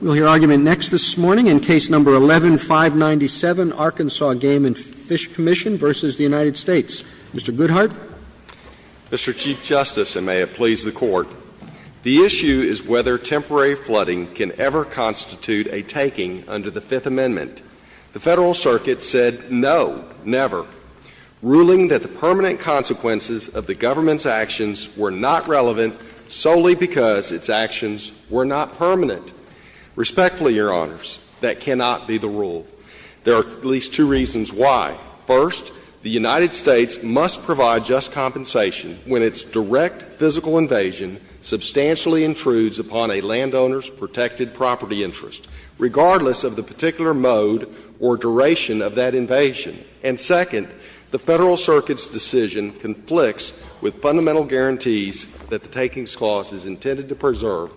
We'll hear argument next this morning in Case No. 11-597, Arkansas Game and Fish Comm'n v. United States. Mr. Goodhart. Mr. Chief Justice, and may it please the Court, the issue is whether temporary flooding can ever constitute a taking under the Fifth Amendment. The Federal Circuit said no, never, ruling that the permanent consequences of the government's actions were not relevant solely because its actions were not permanent. Respectfully, Your Honors, that cannot be the rule. There are at least two reasons why. First, the United States must provide just compensation when its direct physical invasion substantially intrudes upon a landowner's protected property interest, regardless of the particular mode or duration of that invasion. And second, the Federal Circuit's decision conflicts with fundamental guarantees that the takings clause is intended to preserve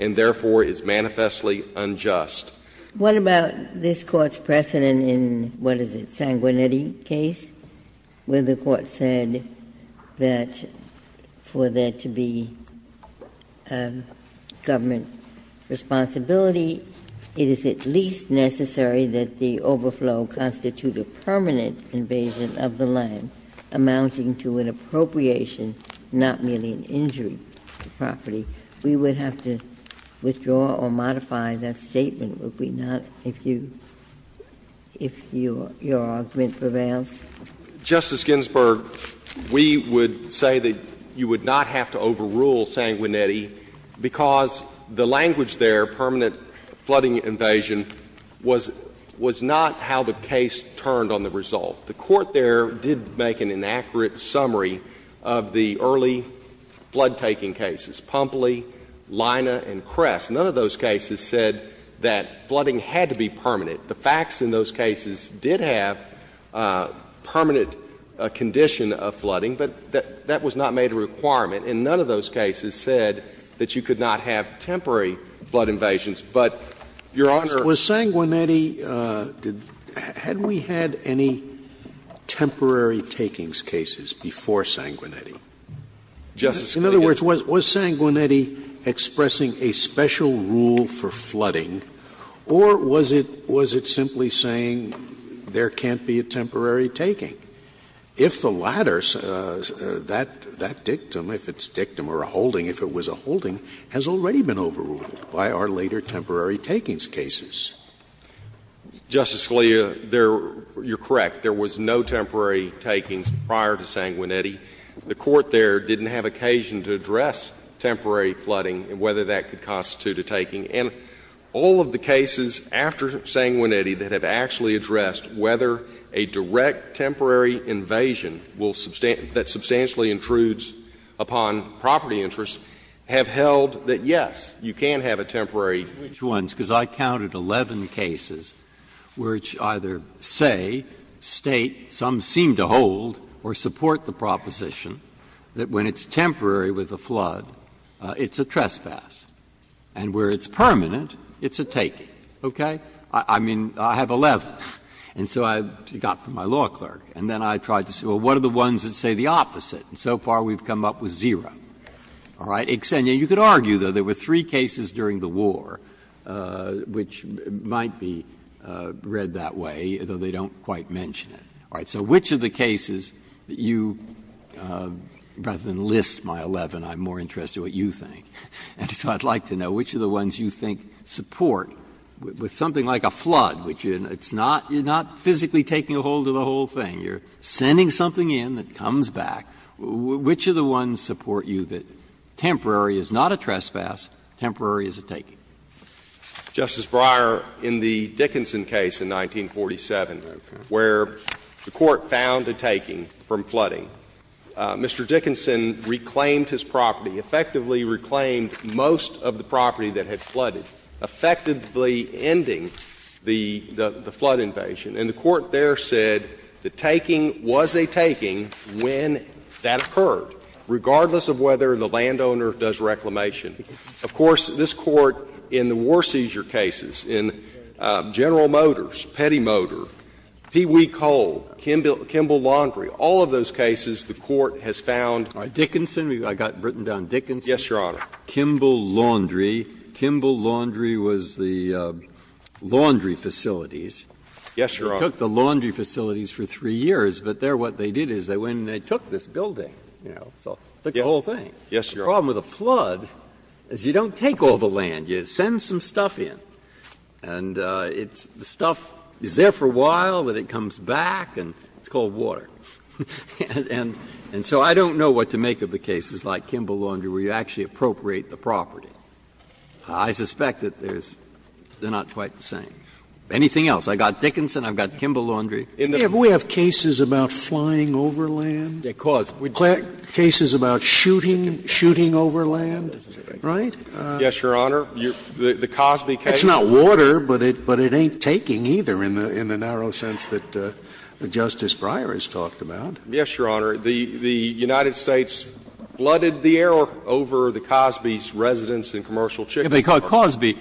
and therefore is manifestly unjust. What about this Court's precedent in, what is it, Sanguinetti case, where the Court said that for there to be government responsibility, it is at least necessary that the overflow constitute a permanent invasion of the land, amounting to an appropriation, not merely an injury to property. We would have to withdraw or modify that statement, would we not, if your argument prevails? Justice Ginsburg, we would say that you would not have to overrule Sanguinetti because the language there, permanent flooding invasion, was not how the case turned on the result. The Court there did make an inaccurate summary of the early flood-taking cases, Pumpley, Leina, and Kress. None of those cases said that flooding had to be permanent. The facts in those cases did have permanent condition of flooding, but that was not made a requirement. And none of those cases said that you could not have temporary flood invasions. But, Your Honor, was Sanguinetti – had we had any temporary takings cases before Sanguinetti? Justice Scalia. In other words, was Sanguinetti expressing a special rule for flooding, or was it simply saying there can't be a temporary taking? If the latter, that dictum, if it's dictum or a holding, if it was a holding, has already been overruled by our later temporary takings cases. Justice Scalia, there – you're correct. There was no temporary takings prior to Sanguinetti. The Court there didn't have occasion to address temporary flooding and whether that could constitute a taking. And all of the cases after Sanguinetti that have actually addressed whether a direct temporary invasion will – that substantially intrudes upon property interests have held that, yes, you can have a temporary invasion. Breyer. Which ones? Because I counted 11 cases which either say, state, some seem to hold or support the proposition that when it's temporary with a flood, it's a trespass, and where it's permanent, it's a taking. Okay? I mean, I have 11. And so I got from my law clerk, and then I tried to say, well, what are the ones that say the opposite? And so far, we've come up with zero. All right? Xenia, you could argue, though, there were three cases during the war which might be read that way, though they don't quite mention it. All right. So which of the cases that you – rather than list my 11, I'm more interested in what you think. And so I'd like to know which of the ones you think support with something like a flood, which it's not – you're not physically taking a hold of the whole thing. You're sending something in that comes back. Which of the ones support you that temporary is not a trespass, temporary is a taking? Justice Breyer, in the Dickinson case in 1947, where the Court found a taking from flooding, Mr. Dickinson reclaimed his property, effectively reclaimed most of the property that had flooded, effectively ending the flood invasion. And the Court there said the taking was a taking when that occurred, regardless of whether the landowner does reclamation. Of course, this Court, in the war seizure cases, in General Motors, Petty Motor, Pee Wee Coal, Kimball Laundry, all of those cases, the Court has found – Dickinson, I've got it written down, Dickinson. Yes, Your Honor. Kimball Laundry. Kimball Laundry was the laundry facilities. Yes, Your Honor. They took the laundry facilities for three years, but there what they did is they went and they took this building. You know, so the whole thing. Yes, Your Honor. The problem with a flood is you don't take all the land. You send some stuff in. And it's the stuff is there for a while, then it comes back, and it's cold water. And so I don't know what to make of the cases like Kimball Laundry where you actually appropriate the property. I suspect that there's – they're not quite the same. Anything else? I've got Dickinson, I've got Kimball Laundry. Scalia, do we have cases about flying over land? Cases about shooting, shooting over land, right? Yes, Your Honor. The Cosby case. It's not water, but it ain't taking either in the narrow sense that Justice Breyer has talked about. Yes, Your Honor. The United States flooded the air over the Cosby's residence and commercial chicken farm. Cosby,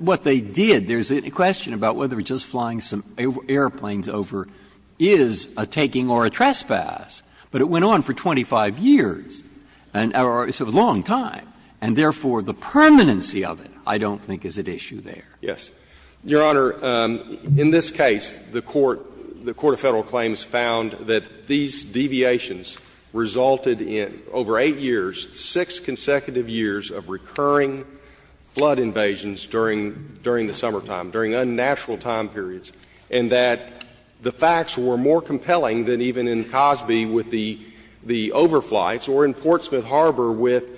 what they did, there's a question about whether just flying some airplanes over is a taking or a trespass. But it went on for 25 years, or it's a long time, and therefore the permanency of it I don't think is at issue there. Yes. Your Honor, in this case, the Court of Federal Claims found that these deviations resulted in over 8 years, 6 consecutive years of recurring flood invasions during the summertime, during unnatural time periods, and that the facts were more consistent with the overflights or in Portsmouth Harbor with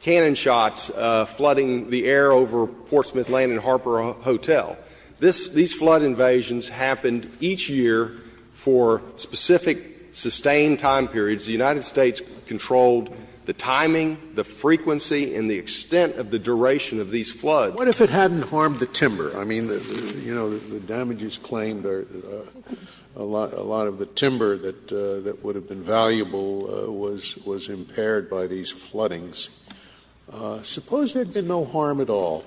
cannon shots flooding the air over Portsmouth Land and Harbor Hotel. These flood invasions happened each year for specific sustained time periods. The United States controlled the timing, the frequency, and the extent of the duration of these floods. What if it hadn't harmed the timber? I mean, you know, the damages claimed are a lot of the timber that would have been valuable was impaired by these floodings. Suppose there had been no harm at all.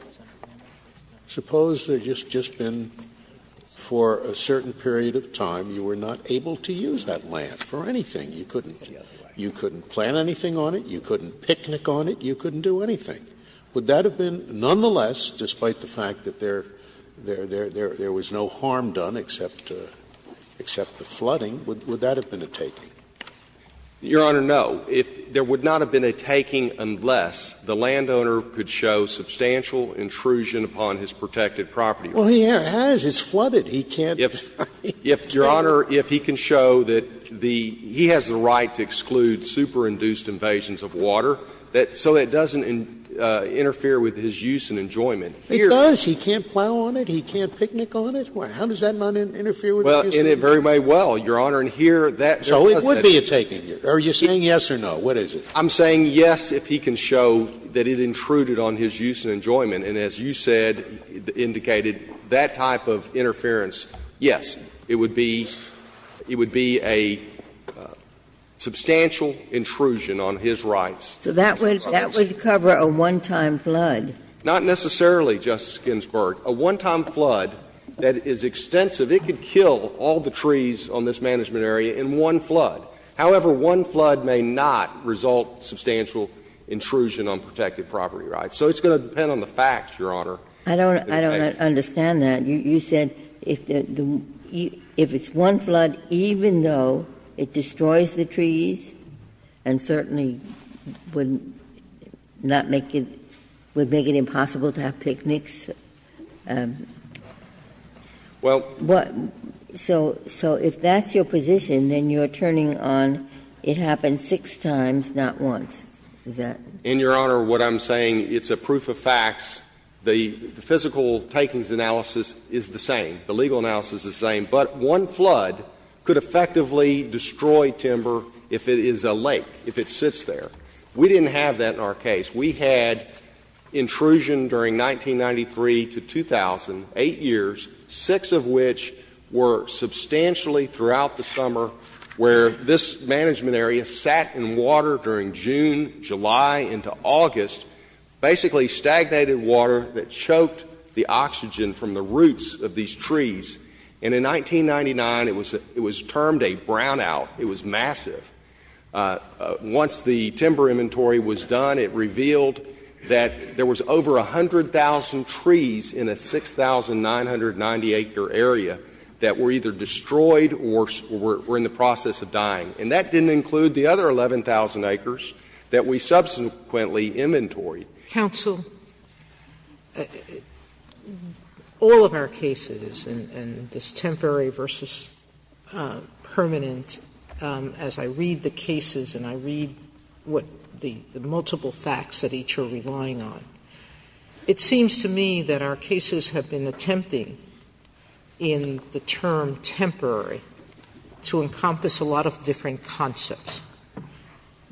Suppose there had just been, for a certain period of time, you were not able to use that land for anything. You couldn't plant anything on it, you couldn't picnic on it, you couldn't do anything. Would that have been nonetheless, despite the fact that there was no harm done except the flooding, would that have been a taking? Your Honor, no. There would not have been a taking unless the landowner could show substantial intrusion upon his protected property. Scalia, Well, he has. It's flooded. He can't. He can't. If, Your Honor, if he can show that the he has the right to exclude superinduced invasions of water, so that it doesn't interfere with his use and enjoyment. Here. Scalia, It does. He can't plow on it, he can't picnic on it. How does that not interfere with his use of the land? Well, in a very way, well, Your Honor, and here that doesn't. Scalia, It would be a taking. Are you saying yes or no? What is it? I'm saying yes if he can show that it intruded on his use and enjoyment. And as you said, indicated, that type of interference, yes, it would be, it would be a substantial intrusion on his rights. So that would, that would cover a one-time flood. Not necessarily, Justice Ginsburg. A one-time flood that is extensive, it could kill all the trees on this management area in one flood. However, one flood may not result substantial intrusion on protected property rights. So it's going to depend on the facts, Your Honor. I don't, I don't understand that. You said if the, if it's one flood, even though it destroys the trees and certainly wouldn't, not make it, would make it impossible to have picnics. Well. So if that's your position, then you're turning on it happened six times, not once. Is that? In Your Honor, what I'm saying, it's a proof of facts. The physical takings analysis is the same. The legal analysis is the same. But one flood could effectively destroy timber if it is a lake, if it sits there. We didn't have that in our case. We had intrusion during 1993 to 2000, 8 years, 6 of which were substantially throughout the summer, where this management area sat in water during June, July into August, basically stagnated water that choked the oxygen from the roots of these trees. And in 1999, it was termed a brownout. It was massive. Once the timber inventory was done, it revealed that there was over 100,000 trees in a 6,990-acre area that were either destroyed or were in the process of dying. And that didn't include the other 11,000 acres that we subsequently inventoried. Sotomayor, all of our cases, and this temporary versus permanent, as I read the cases and I read what the multiple facts that each are relying on, it seems to me that our cases have been attempting in the term temporary to encompass a lot of different concepts,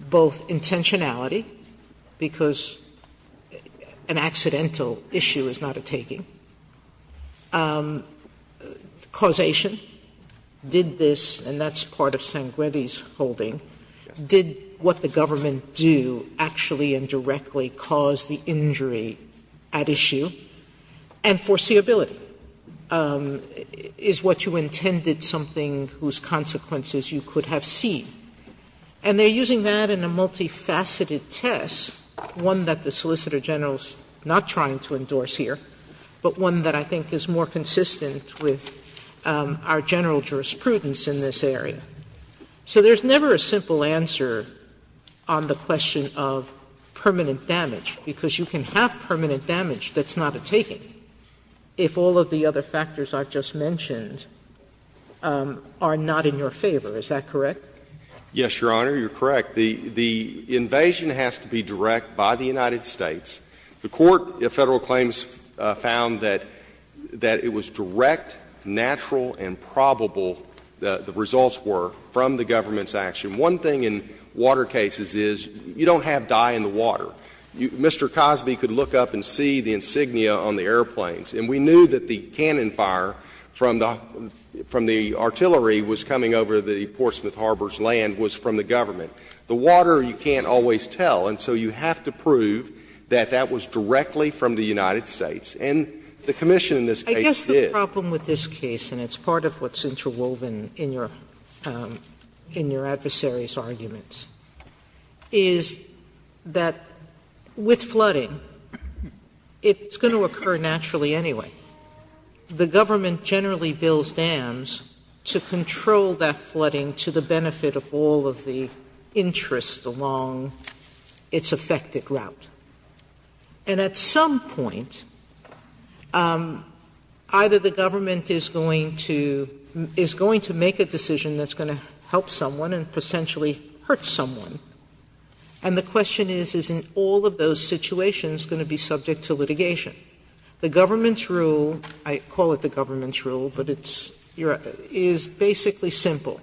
both intentionality, because an accidental issue is not a taking, causation. Did this, and that's part of Sangretti's holding, did what the government do actually and directly cause the injury at issue, and foreseeability. And they're using that in a multifaceted test, one that the Solicitor General is not trying to endorse here, but one that I think is more consistent with our general jurisprudence in this area. So there's never a simple answer on the question of permanent damage, because you can have permanent damage that's not a taking. Sotomayor, I think if all of the other factors I've just mentioned are not in your favor, is that correct? Yes, Your Honor, you're correct. The invasion has to be direct by the United States. The Court, Federal claims found that it was direct, natural, and probable, the results were, from the government's action. One thing in water cases is you don't have dye in the water. Mr. Cosby could look up and see the insignia on the airplanes, and we knew that the cannon fire from the artillery was coming over the Portsmouth Harbor's land was from the government. The water, you can't always tell, and so you have to prove that that was directly from the United States. And the commission in this case did. I guess the problem with this case, and it's part of what's interwoven in your adversary's arguments, is that with flooding, it's going to occur naturally anyway. The government generally builds dams to control that flooding to the benefit of all of the interests along its affected route. And at some point, either the government is going to make a decision that's going to help someone and potentially hurt someone, and the question is, is in all of those situations going to be subject to litigation? The government's rule, I call it the government's rule, but it's your other, is basically simple.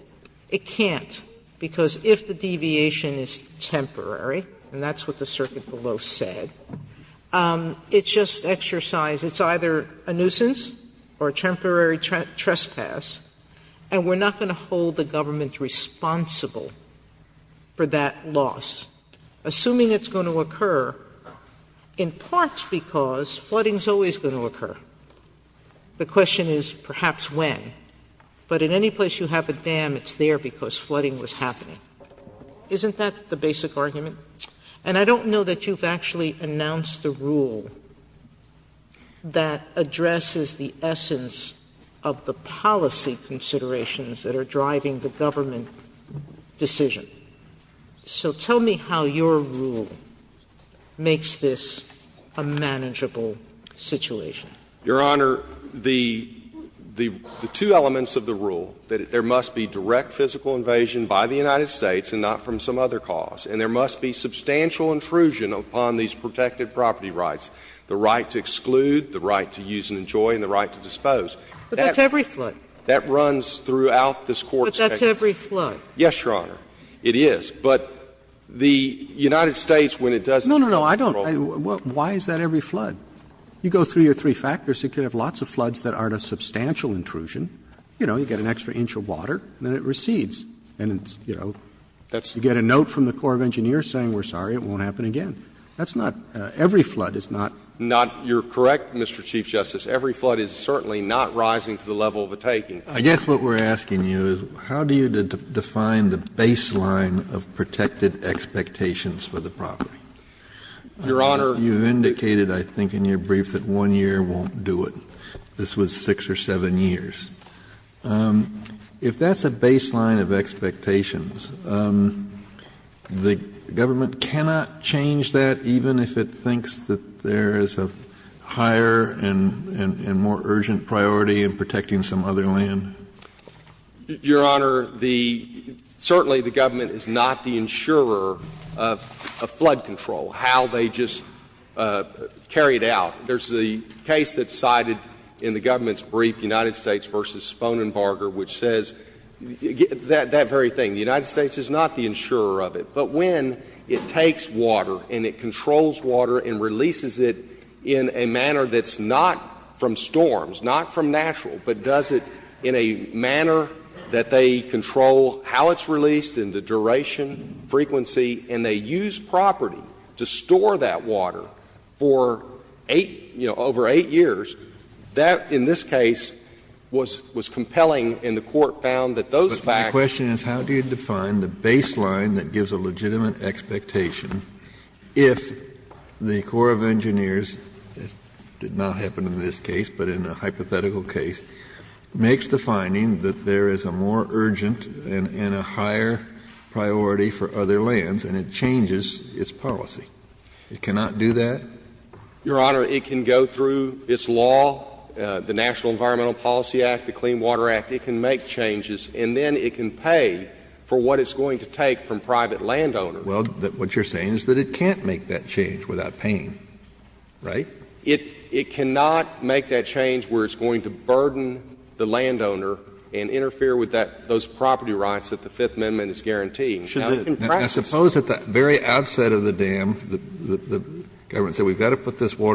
It can't, because if the deviation is temporary, and that's what the circuit below said, it's just exercise. It's either a nuisance or a temporary trespass, and we're not going to hold the government's rule responsible for that loss, assuming it's going to occur in part because flooding's always going to occur. The question is perhaps when. But in any place you have a dam, it's there because flooding was happening. Isn't that the basic argument? And I don't know that you've actually announced a rule that addresses the essence of the policy considerations that are driving the government decision. So tell me how your rule makes this a manageable situation. Your Honor, the two elements of the rule, that there must be direct physical invasion by the United States and not from some other cause, and there must be substantial intrusion upon these protected property rights, the right to exclude, the right to use and enjoy, and the right to dispose. But that's every flood. That runs throughout this Court's case. But that's every flood. Yes, Your Honor, it is. But the United States, when it does control the property rights, it's not a problem. No, no, no, I don't – why is that every flood? You go through your three factors, it could have lots of floods that aren't a substantial intrusion. You know, you get an extra inch of water, and then it recedes. And it's, you know, you get a note from the Corps of Engineers saying, we're sorry, it won't happen again. That's not – every flood is not. You're correct, Mr. Chief Justice. Every flood is certainly not rising to the level of a taking. I guess what we're asking you is, how do you define the baseline of protected expectations for the property? Your Honor, you've indicated, I think, in your brief that one year won't do it. This was six or seven years. If that's a baseline of expectations, the government cannot change that even if it thinks that there is a higher and more urgent priority in protecting some other land. Your Honor, the – certainly the government is not the insurer of flood control, how they just carry it out. There's the case that's cited in the government's brief, United States v. Sponenbarger, which says that very thing. The United States is not the insurer of it. But when it takes water and it controls water and releases it in a manner that's not from storms, not from natural, but does it in a manner that they control how it's released and the duration, frequency, and they use property to store that water for 8 – you know, over 8 years, that in this case was – was compelling and the Court found that those facts. So my question is, how do you define the baseline that gives a legitimate expectation if the Corps of Engineers, it did not happen in this case, but in a hypothetical case, makes the finding that there is a more urgent and a higher priority for other lands and it changes its policy? It cannot do that? Your Honor, it can go through its law, the National Environmental Policy Act, the Clean Water Act, but it can't make that change without being paid for what it's going to take from private landowners. Well, what you're saying is that it can't make that change without paying, right? It cannot make that change where it's going to burden the landowner and interfere with that – those property rights that the Fifth Amendment is guaranteeing. Now, in practice – Now, suppose at the very outset of the dam, the government said we've got to put this Your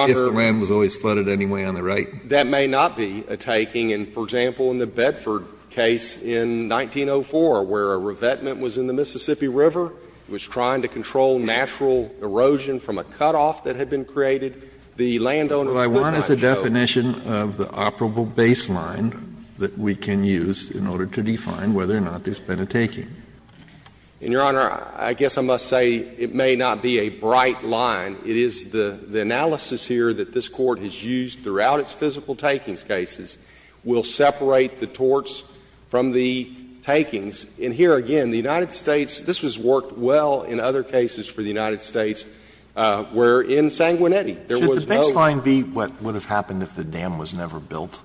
Honor. If the land was always flooded anyway on the right. That may not be a taking. And, for example, in the Bedford case in 1904, where a revetment was in the Mississippi River, it was trying to control natural erosion from a cutoff that had been created, the landowner could not show. Well, I want the definition of the operable baseline that we can use in order to define whether or not there's been a taking. And, Your Honor, I guess I must say it may not be a bright line. It is the analysis here that this Court has used throughout its physical takings cases will separate the torts from the takings. And here, again, the United States – this has worked well in other cases for the United States where in Sanguinetti, there was no – Should the baseline be what would have happened if the dam was never built?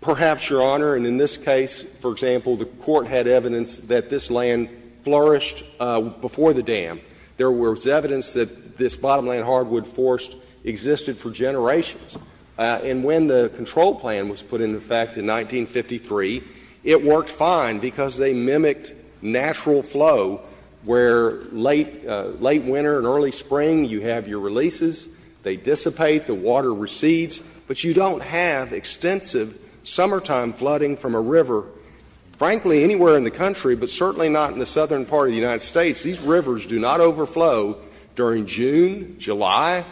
Perhaps, Your Honor. And in this case, for example, the Court had evidence that this land flourished before the dam. There was evidence that this bottomland hardwood forest existed for generations. And when the control plan was put into effect in 1953, it worked fine because they mimicked natural flow where late winter and early spring, you have your releases, they dissipate, the water recedes, but you don't have extensive summertime flooding from a river, frankly, anywhere in the country, but certainly not in the southern part of the United States. These rivers do not overflow during June, July,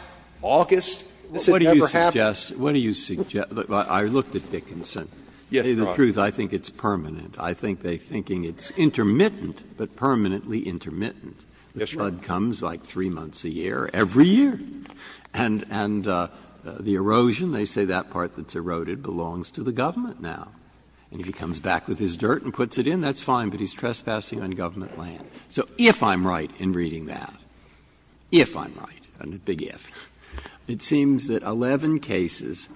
August. This had never happened. Breyer. What do you suggest? I looked at Dickinson. Yes, Your Honor. To tell you the truth, I think it's permanent. I think they're thinking it's intermittent, but permanently intermittent. Yes, Your Honor. The flood comes like three months a year, every year. And the erosion, they say that part that's eroded belongs to the government now. And if he comes back with his dirt and puts it in, that's fine, but he's trespassing on government land. So if I'm right in reading that, if I'm right, I'm a big if, it seems that 11 cases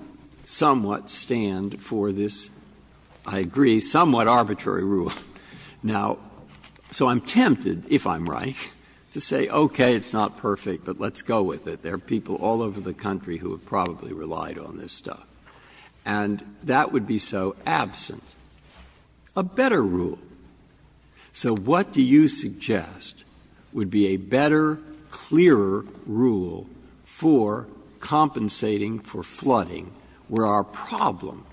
somewhat stand for this, I agree, somewhat arbitrary rule. Now, so I'm tempted, if I'm right, to say, okay, it's not perfect, but let's go with it. There are people all over the country who have probably relied on this stuff. And that would be so absent. A better rule. So what do you suggest would be a better, clearer rule for compensating for flooding where our problem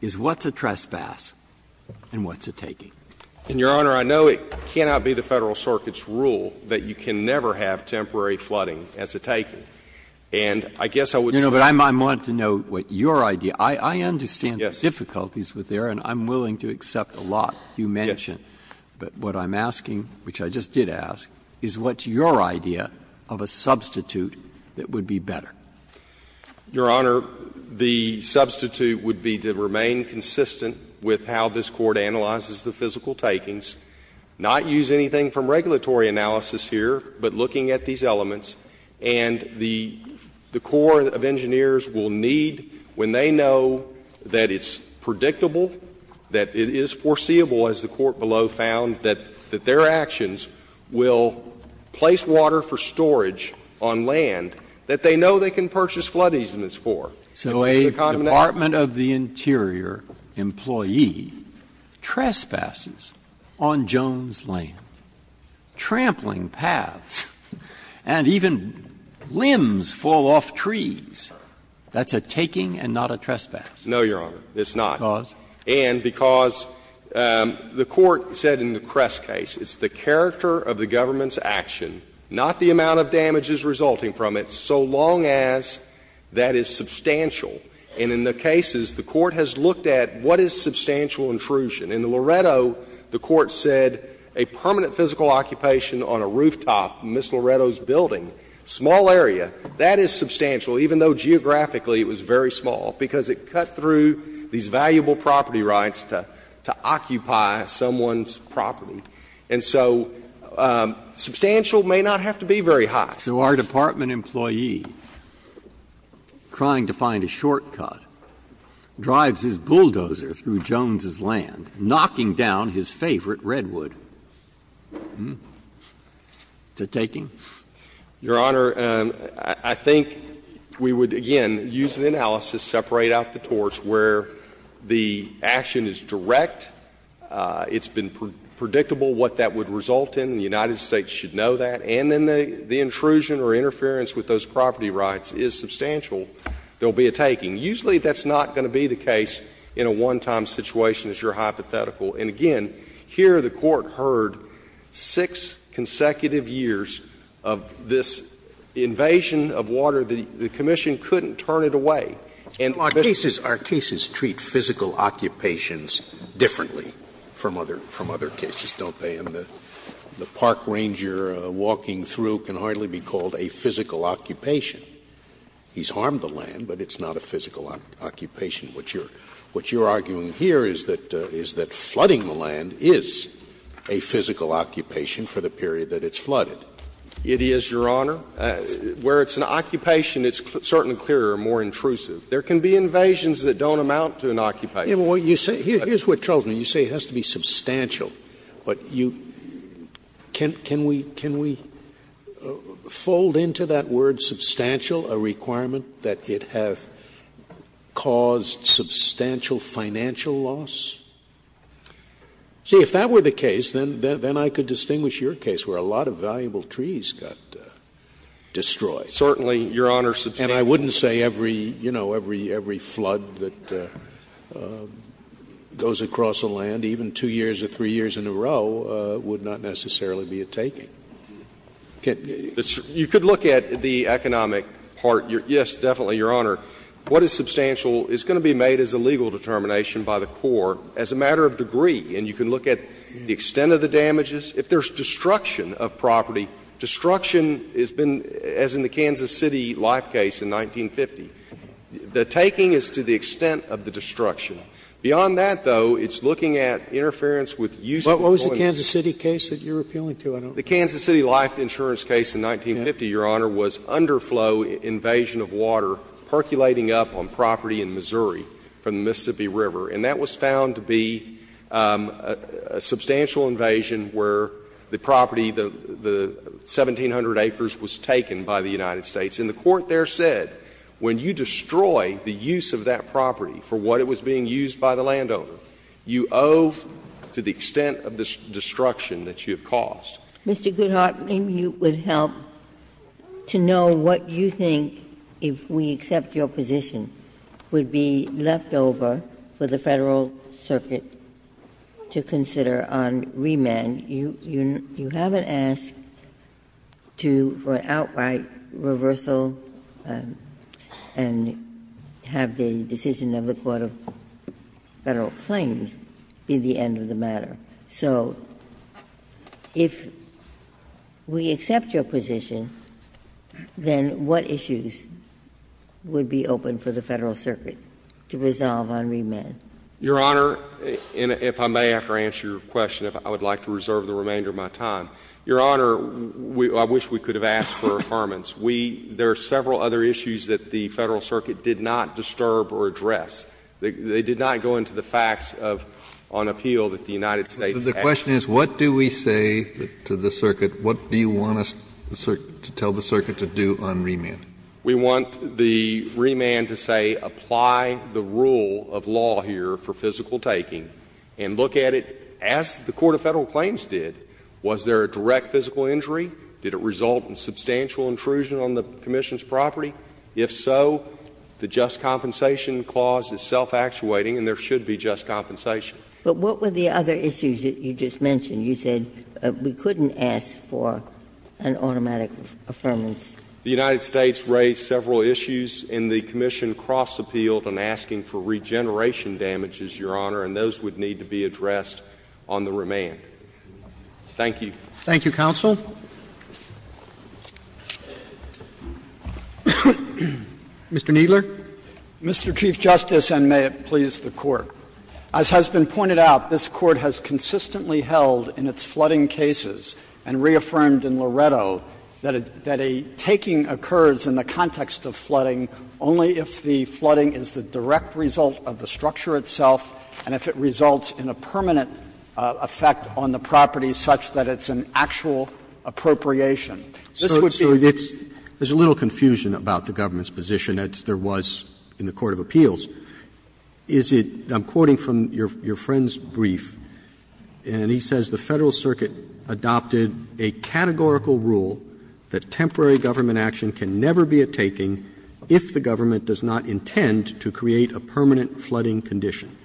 is what's a trespass and what's a taking? And, Your Honor, I know it cannot be the Federal Circuit's rule that you can never have temporary flooding as a taking. And I guess I would just like to know what your idea – I understand the difficulties with there, and I'm willing to accept a lot you mention, but what I'm asking, which I just did ask, is what's your idea of a substitute that would be better? Your Honor, the substitute would be to remain consistent with how this Court analyzes the physical takings, not use anything from regulatory analysis here, but looking at these elements. And the Corps of Engineers will need, when they know that it's predictable, that it is foreseeable, as the Court below found, that their actions will place water for storage on land that they know they can purchase flood easements for. And what's the condemnation? So a Department of the Interior employee trespasses on Jones Lane, trampling paths, and even limbs fall off trees. That's a taking and not a trespass. No, Your Honor, it's not. Because? And because the Court said in the Kress case, it's the character of the government's action, not the amount of damages resulting from it, so long as that is substantial. And in the cases, the Court has looked at what is substantial intrusion. In Loretto, the Court said a permanent physical occupation on a rooftop in Ms. Loretto's building, small area, that is substantial, even though geographically it was very small, because it cut through these valuable property rights to occupy someone's property. And so substantial may not have to be very high. Breyer, so our department employee, trying to find a shortcut, drives his bulldozer through Jones' land, knocking down his favorite Redwood. Is it a taking? Your Honor, I think we would, again, use the analysis, separate out the torts, where the action is direct, it's been predictable what that would result in, the United States should know that, and then the intrusion or interference with those property rights is substantial, there will be a taking. Usually that's not going to be the case in a one-time situation, as you're hypothetical. And again, here the Court heard six consecutive years of this invasion of water. The commission couldn't turn it away. And our cases treat physical occupations differently from other cases, don't they? And the park ranger walking through can hardly be called a physical occupation. He's harmed the land, but it's not a physical occupation. What you're arguing here is that flooding the land is a physical occupation for the period that it's flooded. It is, Your Honor. Where it's an occupation, it's certainly clearer and more intrusive. There can be invasions that don't amount to an occupation. Well, you say, here's what troubles me, you say it has to be substantial. But you can't can we can we fold into that word substantial a requirement that it have caused substantial financial loss? See, if that were the case, then I could distinguish your case where a lot of valuable trees got destroyed. Certainly, Your Honor, substantial. And I wouldn't say every, you know, every flood that goes across a land, even two years or three years in a row, would not necessarily be a taking. You could look at the economic part. Yes, definitely, Your Honor. What is substantial is going to be made as a legal determination by the court as a matter of degree. And you can look at the extent of the damages. If there's destruction of property, destruction has been, as in the Kansas City life case in 1950, the taking is to the extent of the destruction. Beyond that, though, it's looking at interference with use of the point of interest. What was the Kansas City case that you're appealing to? I don't remember. The Kansas City life insurance case in 1950, Your Honor, was underflow invasion of water percolating up on property in Missouri from the Mississippi River. And that was found to be a substantial invasion where the property, the 1,700 acres was taken by the United States. And the court there said when you destroy the use of that property for what it was being used by the landowner, you owe to the extent of the destruction that you have caused. Mr. Goodhart, maybe you would help to know what you think, if we accept your position, would be left over for the Federal Circuit to consider on remand. You haven't asked to, for an outright reversal and have the decision of the court to have Federal claims be the end of the matter. So if we accept your position, then what issues would be open for the Federal Circuit to resolve on remand? Your Honor, and if I may, after I answer your question, if I would like to reserve the remainder of my time. Your Honor, I wish we could have asked for affirmance. We — there are several other issues that the Federal Circuit did not disturb or address. They did not go into the facts of — on appeal that the United States has. So the question is, what do we say to the circuit? What do you want us to tell the circuit to do on remand? We want the remand to say apply the rule of law here for physical taking and look at it as the court of Federal claims did. Was there a direct physical injury? Did it result in substantial intrusion on the commission's property? If so, the just compensation clause is self-actuating and there should be just compensation. But what were the other issues that you just mentioned? You said we couldn't ask for an automatic affirmance. The United States raised several issues and the commission cross-appealed on asking for regeneration damages, Your Honor, and those would need to be addressed on the remand. Thank you. Roberts Thank you, counsel. Mr. Kneedler. Kneedler, Mr. Chief Justice, and may it please the Court. As has been pointed out, this Court has consistently held in its flooding cases and reaffirmed in Loretto that a taking occurs in the context of flooding only if the flooding is the direct result of the structure itself and if it results in a permanent effect on the property such that it's an actual appropriation. This would be the case. Roberts There's a little confusion about the government's position, as there was in the court of appeals. Is it, I'm quoting from your friend's brief, and he says the Federal Circuit adopted a categorical rule that temporary government action can never be a taking if the government does not intend to create a permanent flooding condition.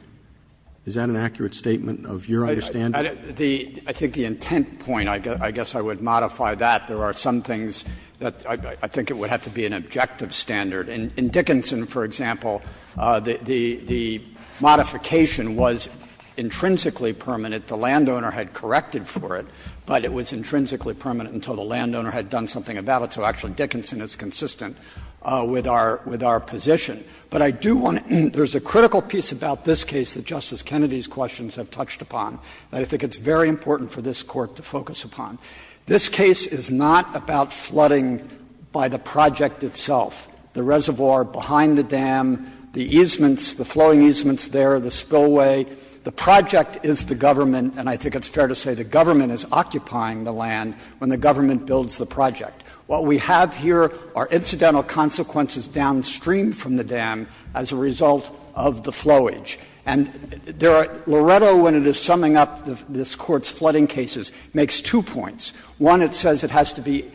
Is that an accurate statement of your understanding? Kneedler I think the intent point, I guess I would modify that. There are some things that I think it would have to be an objective standard. In Dickinson, for example, the modification was intrinsically permanent. The landowner had corrected for it, but it was intrinsically permanent until the landowner had done something about it. So actually Dickinson is consistent with our position. But I do want to — there's a critical piece about this case that Justice Kennedy's questions have touched upon that I think it's very important for this Court to focus upon. This case is not about flooding by the project itself, the reservoir behind the dam, the easements, the flowing easements there, the spillway. The project is the government, and I think it's fair to say the government is occupying the land when the government builds the project. What we have here are incidental consequences downstream from the dam as a result of the flowage. And there are — Loretto, when it is summing up this Court's flooding cases, makes two points. One, it says it has to be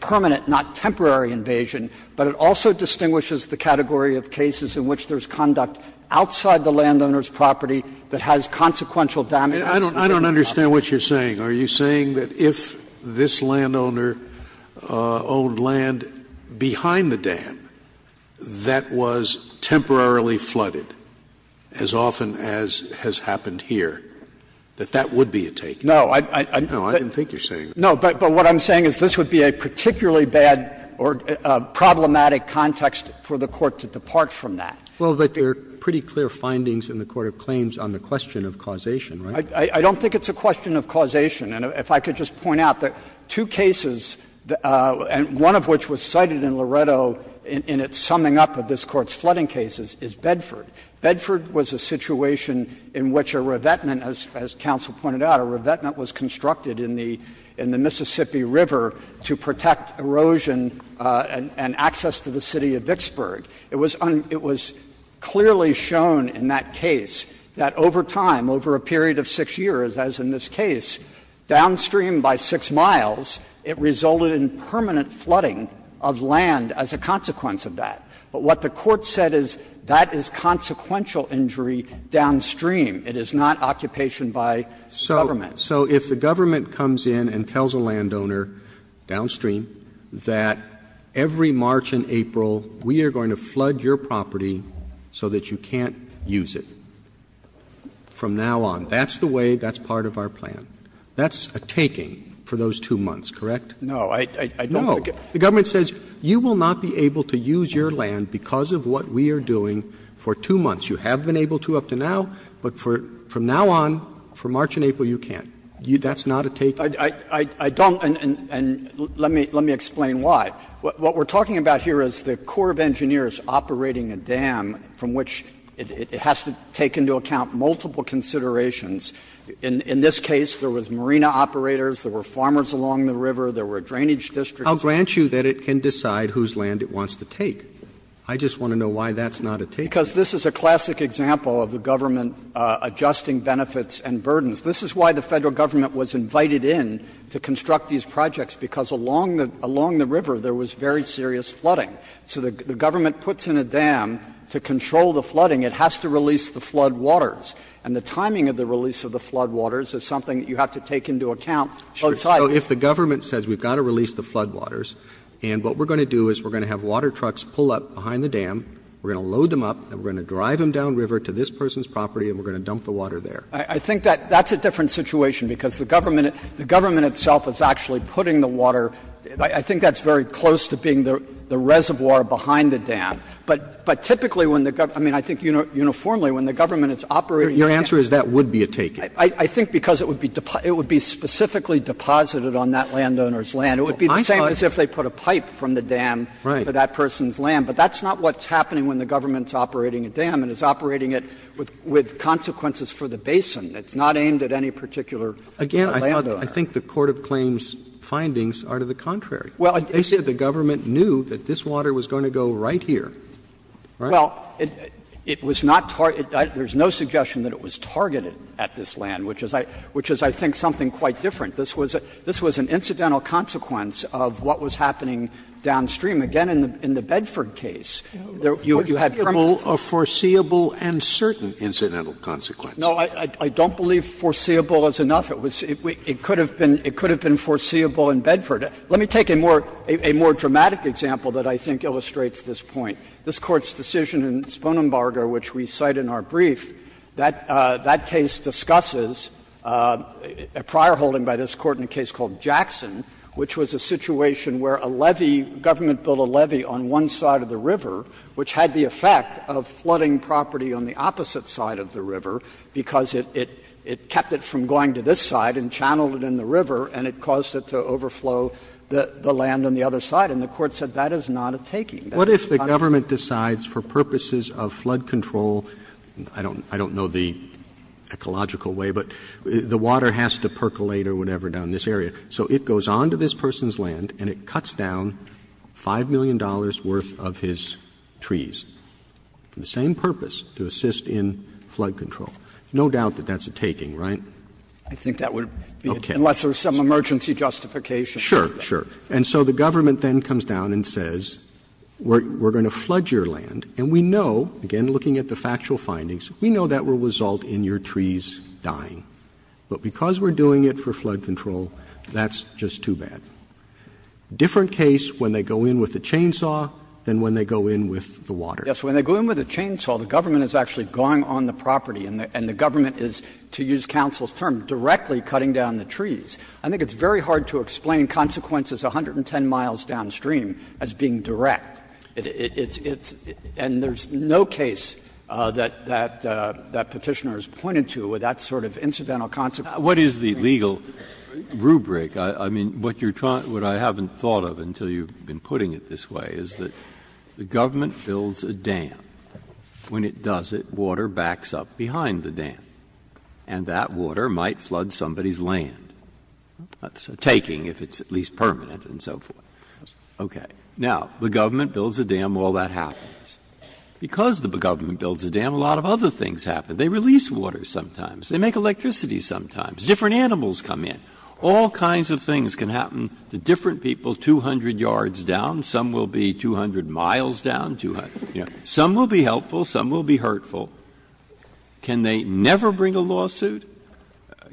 permanent, not temporary invasion, but it also distinguishes the category of cases in which there's conduct outside the landowner's property that has consequential damage. Scalia I don't understand what you're saying. Are you saying that if this landowner owned land behind the dam that was temporarily flooded, as often as has happened here, that that would be a taking? No, I didn't think you're saying that. Kneedler No, but what I'm saying is this would be a particularly bad or problematic context for the Court to depart from that. Roberts Well, but there are pretty clear findings in the court of claims on the question of causation, right? I don't think it's a question of causation. And if I could just point out that two cases, one of which was cited in Loretto in its summing up of this Court's flooding cases, is Bedford. Bedford was a situation in which a revetment, as counsel pointed out, a revetment was constructed in the Mississippi River to protect erosion and access to the city of Vicksburg. It was clearly shown in that case that over time, over a period of 6 years, as in this case, downstream by 6 miles, it resulted in permanent flooding of land as a consequence of that. But what the Court said is that is consequential injury downstream. It is not occupation by the government. Roberts So if the government comes in and tells a landowner downstream that every March and April we are going to flood your property so that you can't use it from now on, that's the way, that's part of our plan. That's a taking for those two months, correct? Bedford No. I don't think it's a taking. Roberts No. The government says you will not be able to use your land because of what we are doing for two months. You have been able to up to now, but from now on, for March and April, you can't. That's not a taking? Bedford I don't, and let me explain why. What we are talking about here is the Corps of Engineers operating a dam from which it has to take into account multiple considerations. In this case, there was marina operators, there were farmers along the river, there were drainage districts. Roberts I'll grant you that it can decide whose land it wants to take. I just want to know why that's not a taking. Bedford Because this is a classic example of the government adjusting benefits and burdens. This is why the Federal government was invited in to construct these projects, because along the river there was very serious flooding. So the government puts in a dam to control the flooding. It has to release the floodwaters. And the timing of the release of the floodwaters is something that you have to take into account outside. Roberts So if the government says we've got to release the floodwaters, and what we are going to do is we are going to have water trucks pull up behind the dam, we are going to load them up, and we are going to drive them downriver to this person's property and we are going to dump the water there. Bedford The government itself is actually putting the water, I think that's very close to being the reservoir behind the dam. But typically when the government, I mean, I think uniformly when the government is operating the dam. Roberts Your answer is that would be a taking. Bedford I think because it would be specifically deposited on that landowner's land. It would be the same as if they put a pipe from the dam to that person's land. But that's not what's happening when the government is operating a dam. It is operating it with consequences for the basin. It's not aimed at any particular landowner. Roberts Again, I think the court of claims' findings are to the contrary. They said the government knew that this water was going to go right here, right? Bedford Well, it was not targeted. There is no suggestion that it was targeted at this land, which is, I think, something quite different. This was an incidental consequence of what was happening downstream. Again, in the Bedford case, you had permanent consequences. Scalia A foreseeable and certain incidental consequence. Bedford No, I don't believe foreseeable is enough. It could have been foreseeable in Bedford. Let me take a more dramatic example that I think illustrates this point. This Court's decision in Sponenbarger, which we cite in our brief, that case discusses a prior holding by this Court in a case called Jackson, which was a situation where a levee, government built a levee on one side of the river, which had the effect of flooding property on the opposite side of the river, because it kept it from going to this side and channeled it in the river, and it caused it to overflow the land on the other side. And the Court said that is not a taking. Roberts What if the government decides for purposes of flood control, I don't know the ecological way, but the water has to percolate or whatever down this area, so it goes on to this person's land and it cuts down $5 million worth of his trees? For the same purpose, to assist in flood control. No doubt that that's a taking, right? Roberts I think that would be, unless there's some emergency justification. Roberts Sure, sure. And so the government then comes down and says, we're going to flood your land, and we know, again looking at the factual findings, we know that will result in your trees dying. But because we're doing it for flood control, that's just too bad. Different case when they go in with a chainsaw than when they go in with the water. Kneedler Yes. When they go in with a chainsaw, the government is actually going on the property and the government is, to use counsel's term, directly cutting down the trees. I think it's very hard to explain consequences 110 miles downstream as being direct. It's — and there's no case that Petitioner has pointed to with that sort of incidental consequence. Breyer What is the legal rubric? I mean, what you're trying — what I haven't thought of until you've been putting it this way is that the government builds a dam. When it does it, water backs up behind the dam, and that water might flood somebody's land. That's a taking, if it's at least permanent and so forth. Okay. Now, the government builds a dam, all that happens. Because the government builds a dam, a lot of other things happen. They release water sometimes. They make electricity sometimes. Different animals come in. All kinds of things can happen to different people 200 yards down. Some will be 200 miles down. Some will be helpful. Some will be hurtful. Can they never bring a lawsuit?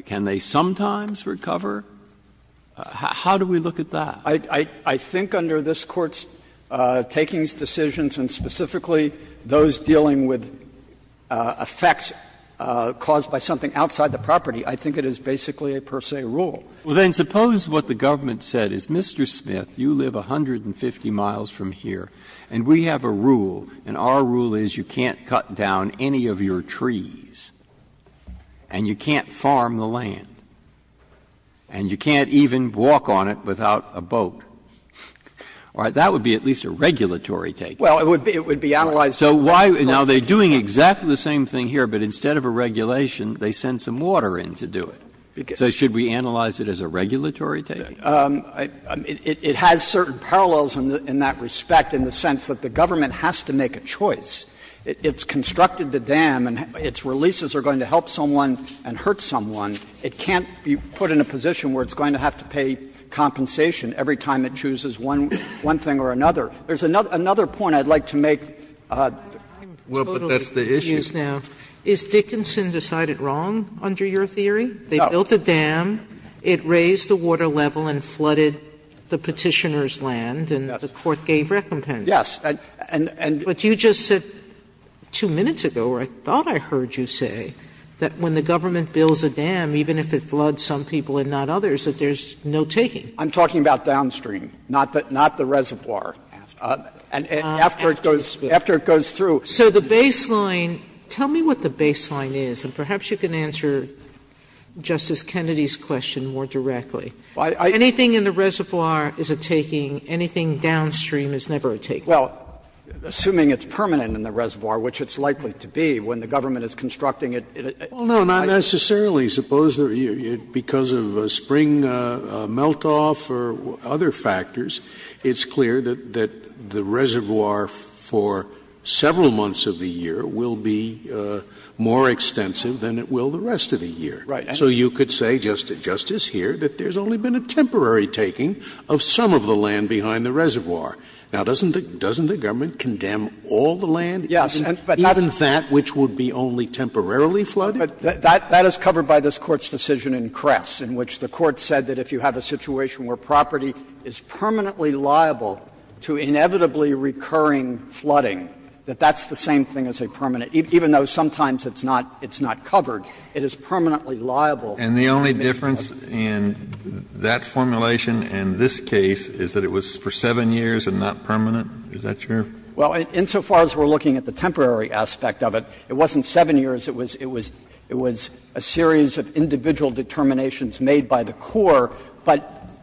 Can they sometimes recover? How do we look at that? Kneedler I think under this Court's takings, decisions, and specifically those dealing with effects caused by something outside the property, I think it is basically a per se rule. Breyer Well, then suppose what the government said is, Mr. Smith, you live 150 miles from here, and we have a rule, and our rule is you can't cut down any of your trees, and you can't farm the land, and you can't even walk on it without a boat. All right. That would be at least a regulatory taking. Kneedler Well, it would be analyzed. Breyer So why — now, they're doing exactly the same thing here, but instead of a regulation, they send some water in to do it. So should we analyze it as a regulatory taking? Kneedler It has certain parallels in that respect in the sense that the government has to make a choice. It's constructed the dam, and its releases are going to help someone and hurt someone. It can't be put in a position where it's going to have to pay compensation every time it chooses one thing or another. There's another point I'd like to make. Sotomayor Well, but that's the issue. Sotomayor Is Dickinson decided wrong under your theory? They built a dam, it raised the water level and flooded the Petitioner's land, and the Court gave recompense. Kneedler Yes. And — Sotomayor But you just said two minutes ago, or I thought I heard you say, that when the government builds a dam, even if it floods some people and not others, that there's no taking. Kneedler I'm talking about downstream, not the reservoir. And after it goes — after it goes through — Sotomayor The baseline — tell me what the baseline is, and perhaps you can answer Justice Kennedy's question more directly. Anything in the reservoir is a taking, anything downstream is never a taking. Kneedler Well, assuming it's permanent in the reservoir, which it's likely to be, when the government is constructing it, it — Scalia Well, no, not necessarily. Suppose there — because of a spring melt-off or other factors, it's clear that the months of the year will be more extensive than it will the rest of the year. Kneedler Right. Scalia So you could say, Justice, here, that there's only been a temporary taking of some of the land behind the reservoir. Now, doesn't the government condemn all the land, even that which would be only temporarily flooded? Kneedler But that is covered by this Court's decision in Kress, in which the Court said that if you have a situation where property is permanently liable to inevitably recurring flooding, that that's the same thing as a permanent — even though sometimes it's not covered, it is permanently liable. Kennedy And the only difference in that formulation and this case is that it was for 7 years and not permanent? Is that true? Kneedler Well, insofar as we're looking at the temporary aspect of it, it wasn't 7 years. It was a series of individual determinations made by the Corps,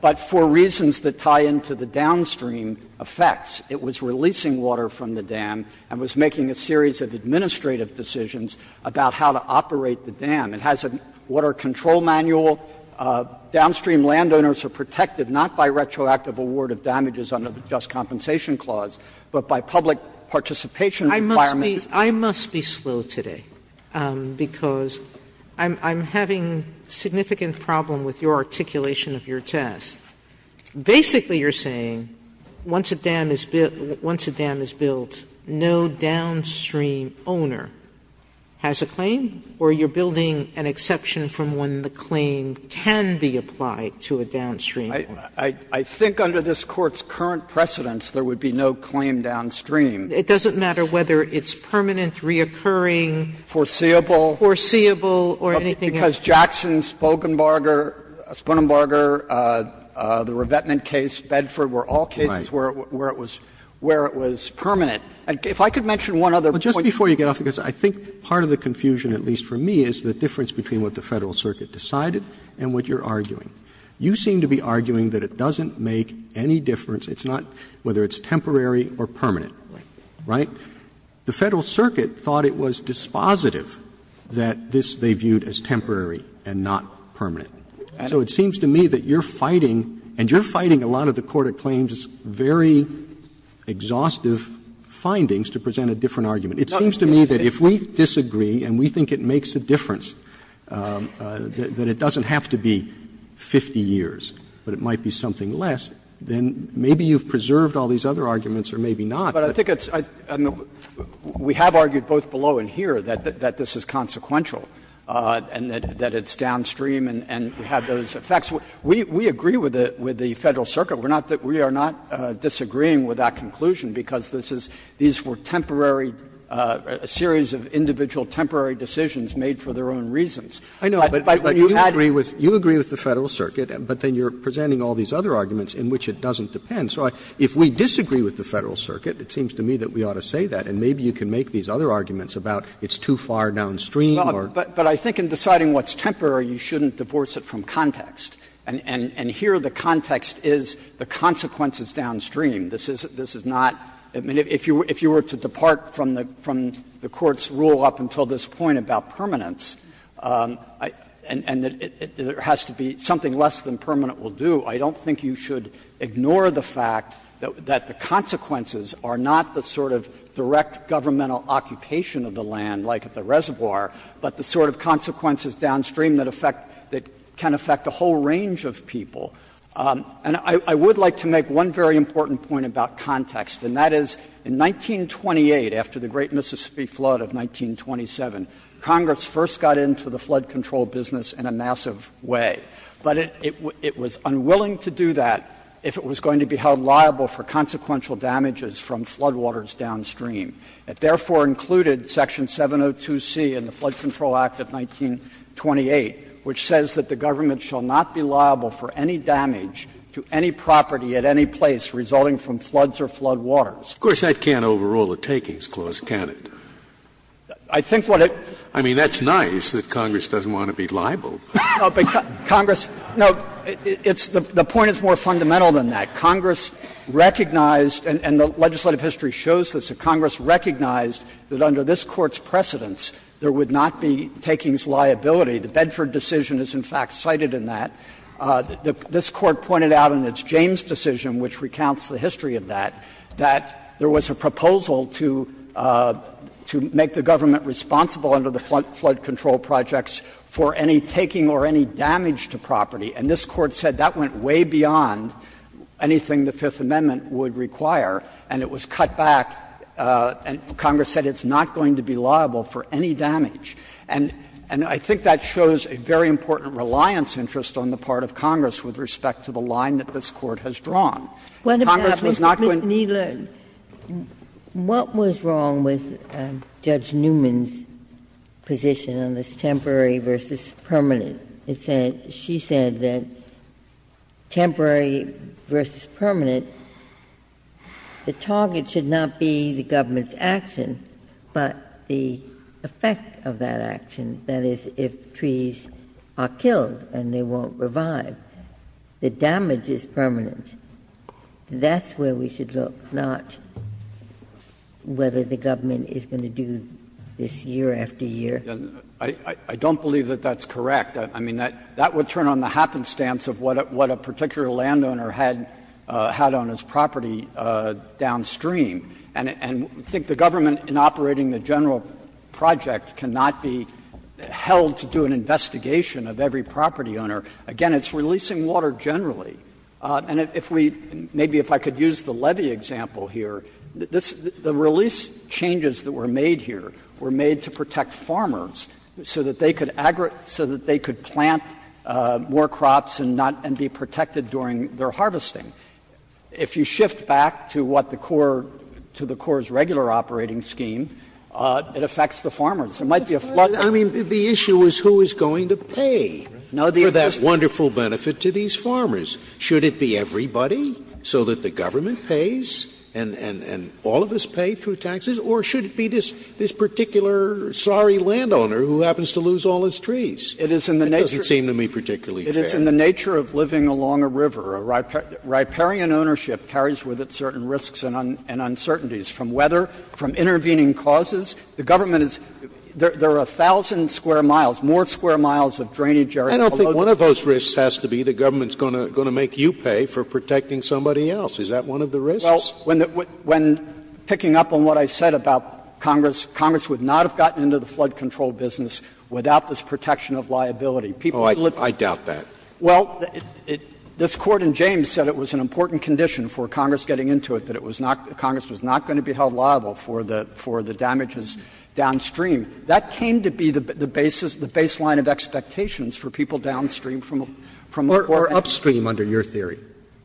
but for reasons that tie into the downstream effects. It was releasing water from the dam and was making a series of administrative decisions about how to operate the dam. It has a water control manual. Downstream landowners are protected not by retroactive award of damages under the Just Compensation Clause, but by public participation requirements. Sotomayor I must be slow today, because I'm having significant problem with your articulation of your test. Basically, you're saying once a dam is built, no downstream owner has a claim, or you're building an exception from when the claim can be applied to a downstream owner? Kneedler I think under this Court's current precedents, there would be no claim downstream. Sotomayor It doesn't matter whether it's permanent, reoccurring. Kneedler Foreseeable. Sotomayor Foreseeable or anything else. Jackson, Sponenbarger, the revetment case, Bedford, were all cases where it was permanent. If I could mention one other point. Roberts But just before you get off the case, I think part of the confusion, at least for me, is the difference between what the Federal Circuit decided and what you're arguing. You seem to be arguing that it doesn't make any difference. It's not whether it's temporary or permanent, right? The Federal Circuit thought it was dispositive that this they viewed as temporary and not permanent. So it seems to me that you're fighting, and you're fighting a lot of the court-acclaimed very exhaustive findings to present a different argument. It seems to me that if we disagree and we think it makes a difference, that it doesn't have to be 50 years, but it might be something less, then maybe you've preserved all these other arguments or maybe not. But I think it's we have argued both below and here that this is consequential and that it's downstream and we have those effects. We agree with the Federal Circuit. We are not disagreeing with that conclusion, because this is, these were temporary series of individual temporary decisions made for their own reasons. But when you add it to the Federal Circuit, but then you're presenting all these other arguments in which it doesn't depend. So if we disagree with the Federal Circuit, it seems to me that we ought to say that. And maybe you can make these other arguments about it's too far downstream or. But I think in deciding what's temporary, you shouldn't divorce it from context. And here the context is the consequence is downstream. This is not, I mean, if you were to depart from the court's rule up until this point about permanence, and there has to be something less than permanent will do, I don't think you should ignore the fact that the consequences are not the sort of direct governmental occupation of the land like at the reservoir, but the sort of consequences downstream that affect, that can affect a whole range of people. And I would like to make one very important point about context, and that is in 1928, after the Great Mississippi Flood of 1927, Congress first got into the flood control business in a massive way. But it was unwilling to do that if it was going to be held liable for consequential damages from floodwaters downstream. It therefore included section 702C in the Flood Control Act of 1928, which says that the government shall not be liable for any damage to any property at any place resulting from floods or floodwaters. Scalia. Of course, that can't overrule the Takings Clause, can it? I think what it does. I mean, that's nice that Congress doesn't want to be liable. But Congress no, it's the point is more fundamental than that. Congress recognized, and the legislative history shows this, that Congress recognized that under this Court's precedents, there would not be takings liability. The Bedford decision is in fact cited in that. This Court pointed out in its James decision, which recounts the history of that, that there was a proposal to make the government responsible under the flood control projects for any taking or any damage to property. And this Court said that went way beyond anything the Fifth Amendment would require, and it was cut back. And Congress said it's not going to be liable for any damage. And I think that shows a very important reliance interest on the part of Congress with respect to the line that this Court has drawn. Congress was not going to be liable for any damage. Ginsburg, what was wrong with Judge Newman's position on this temporary versus permanent? It said, she said that temporary versus permanent, the target should not be the government's action, but the effect of that action, that is, if trees are killed and they won't revive. The damage is permanent. That's where we should look, not whether the government is going to do this year after year. I don't believe that that's correct. I mean, that would turn on the happenstance of what a particular landowner had on his property downstream. And I think the government, in operating the general project, cannot be held to do an investigation of every property owner. Again, it's releasing water generally. And if we, maybe if I could use the levy example here, the release changes that were made here were made to protect farmers so that they could plant more crops and not be protected during their harvesting. If you shift back to what the core, to the core's regular operating scheme, it affects the farmers. It might be a flood. Scalia. I mean, the issue is who is going to pay for that wonderful benefit to these farmers. Should it be everybody so that the government pays and all of us pay through taxes? Or should it be this particular sorry landowner who happens to lose all his trees? It doesn't seem to me particularly fair. It is in the nature of living along a river. Riparian ownership carries with it certain risks and uncertainties from weather, from intervening causes. The government is — there are a thousand square miles, more square miles of drainage area below the river. One of those risks has to be the government is going to make you pay for protecting somebody else. Is that one of the risks? Well, when picking up on what I said about Congress, Congress would not have gotten into the flood control business without this protection of liability. People would live in it. Oh, I doubt that. Well, this Court in James said it was an important condition for Congress getting into it, that it was not — Congress was not going to be held liable for the damages downstream. That came to be the basis, the baseline of expectations for people downstream from a — from a poor area. Or upstream under your theory.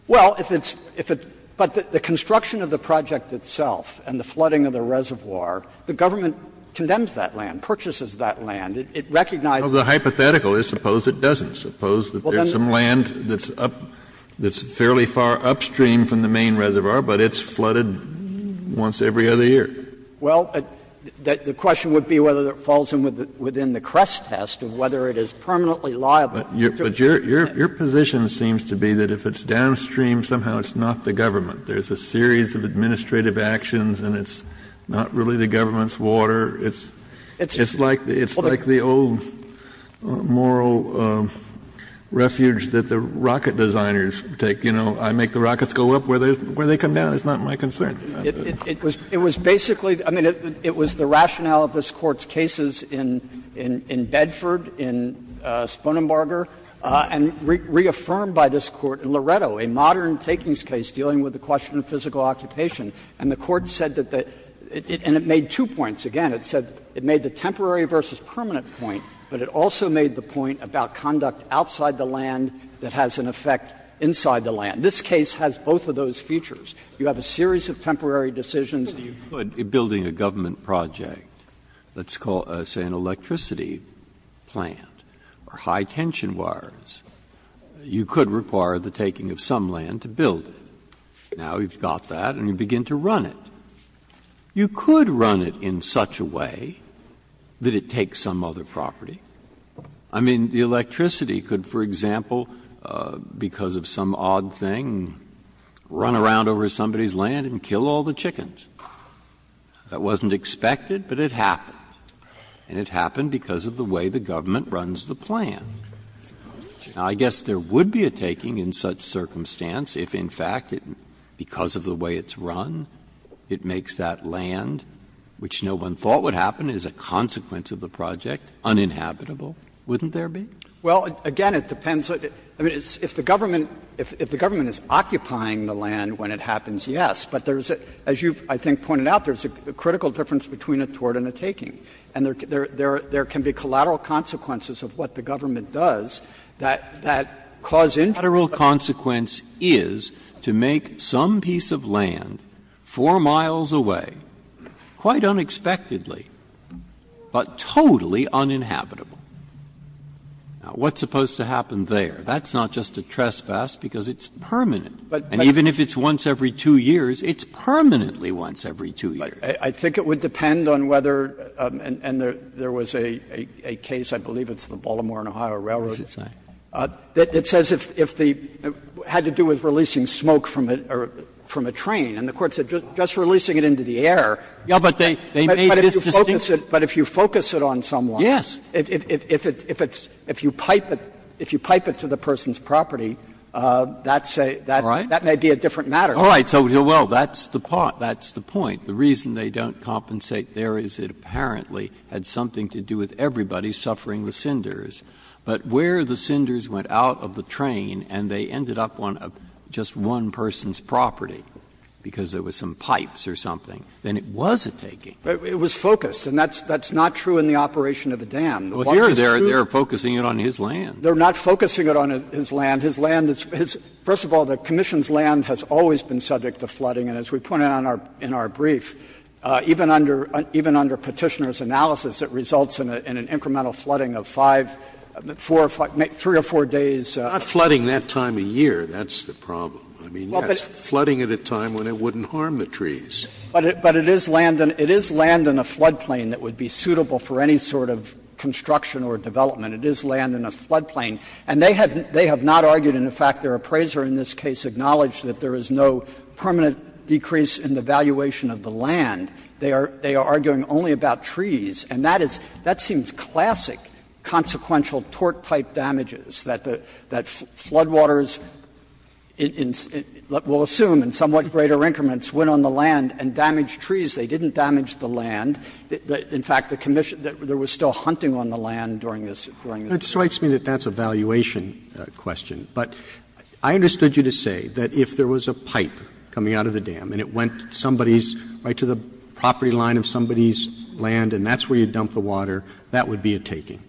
Well, if it's — if it — but the construction of the project itself and the flooding of the reservoir, the government condemns that land, purchases that land. It recognizes that. Well, the hypothetical is suppose it doesn't. Suppose that there's some land that's up — that's fairly far upstream from the main reservoir, but it's flooded once every other year. Well, the question would be whether it falls within the crest test of whether it is permanently liable. But your position seems to be that if it's downstream, somehow it's not the government. There's a series of administrative actions and it's not really the government's water. It's like the old moral refuge that the rocket designers take. You know, I make the rockets go up where they come down. It's not my concern. It was basically — I mean, it was the rationale of this Court's cases in Bedford, in Sponenbarger, and reaffirmed by this Court in Loretto, a modern takings case dealing with the question of physical occupation. And the Court said that the — and it made two points. Again, it said it made the temporary versus permanent point, but it also made the point about conduct outside the land that has an effect inside the land. This case has both of those features. You have a series of temporary decisions that you could, in building a government project, let's call it, say, an electricity plant, or high-tension wires, you could require the taking of some land to build it. Now you've got that and you begin to run it. You could run it in such a way that it takes some other property. I mean, the electricity could, for example, because of some odd thing, run around and take over somebody's land and kill all the chickens. That wasn't expected, but it happened. And it happened because of the way the government runs the plant. Now, I guess there would be a taking in such circumstance if, in fact, because of the way it's run, it makes that land, which no one thought would happen, as a consequence of the project, uninhabitable. Wouldn't there be? Well, again, it depends. I mean, if the government is occupying the land when it happens, yes. But there's a — as you've, I think, pointed out, there's a critical difference between a toward and a taking. And there can be collateral consequences of what the government does that cause interest. A collateral consequence is to make some piece of land 4 miles away, quite unexpectedly, but totally uninhabitable. Now, what's supposed to happen there? That's not just a trespass, because it's permanent. And even if it's once every 2 years, it's permanently once every 2 years. But I think it would depend on whether — and there was a case, I believe it's the Baltimore and Ohio Railroad. What's it say? It says if the — had to do with releasing smoke from a train. And the Court said just releasing it into the air. Yeah, but they made this distinction. But if you focus it on someone. Yes. If it's — if you pipe it to the person's property, that's a — that may be a different matter. All right. So, well, that's the point. The reason they don't compensate there is it apparently had something to do with everybody suffering the cinders. But where the cinders went out of the train and they ended up on just one person's property because there was some pipes or something, then it was a taking. It was focused. And that's not true in the operation of a dam. Well, here they're focusing it on his land. They're not focusing it on his land. His land is — first of all, the Commission's land has always been subject to flooding. And as we pointed out in our brief, even under Petitioner's analysis, it results in an incremental flooding of 5, 4, 3 or 4 days. Not flooding that time of year. That's the problem. I mean, that's flooding at a time when it wouldn't harm the trees. But it is land in a floodplain that would be suitable for any sort of construction or development. It is land in a floodplain. And they have not argued, in fact, their appraiser in this case acknowledged that there is no permanent decrease in the valuation of the land. They are arguing only about trees. And that is — that seems classic consequential tort-type damages, that floodwaters in — we'll assume in somewhat greater increments went on the land and damaged trees. They didn't damage the land. In fact, the Commission — there was still hunting on the land during this — during this period. Roberts, that strikes me that that's a valuation question. But I understood you to say that if there was a pipe coming out of the dam and it went to somebody's — right to the property line of somebody's land and that's where you dump the water, that would be a taking.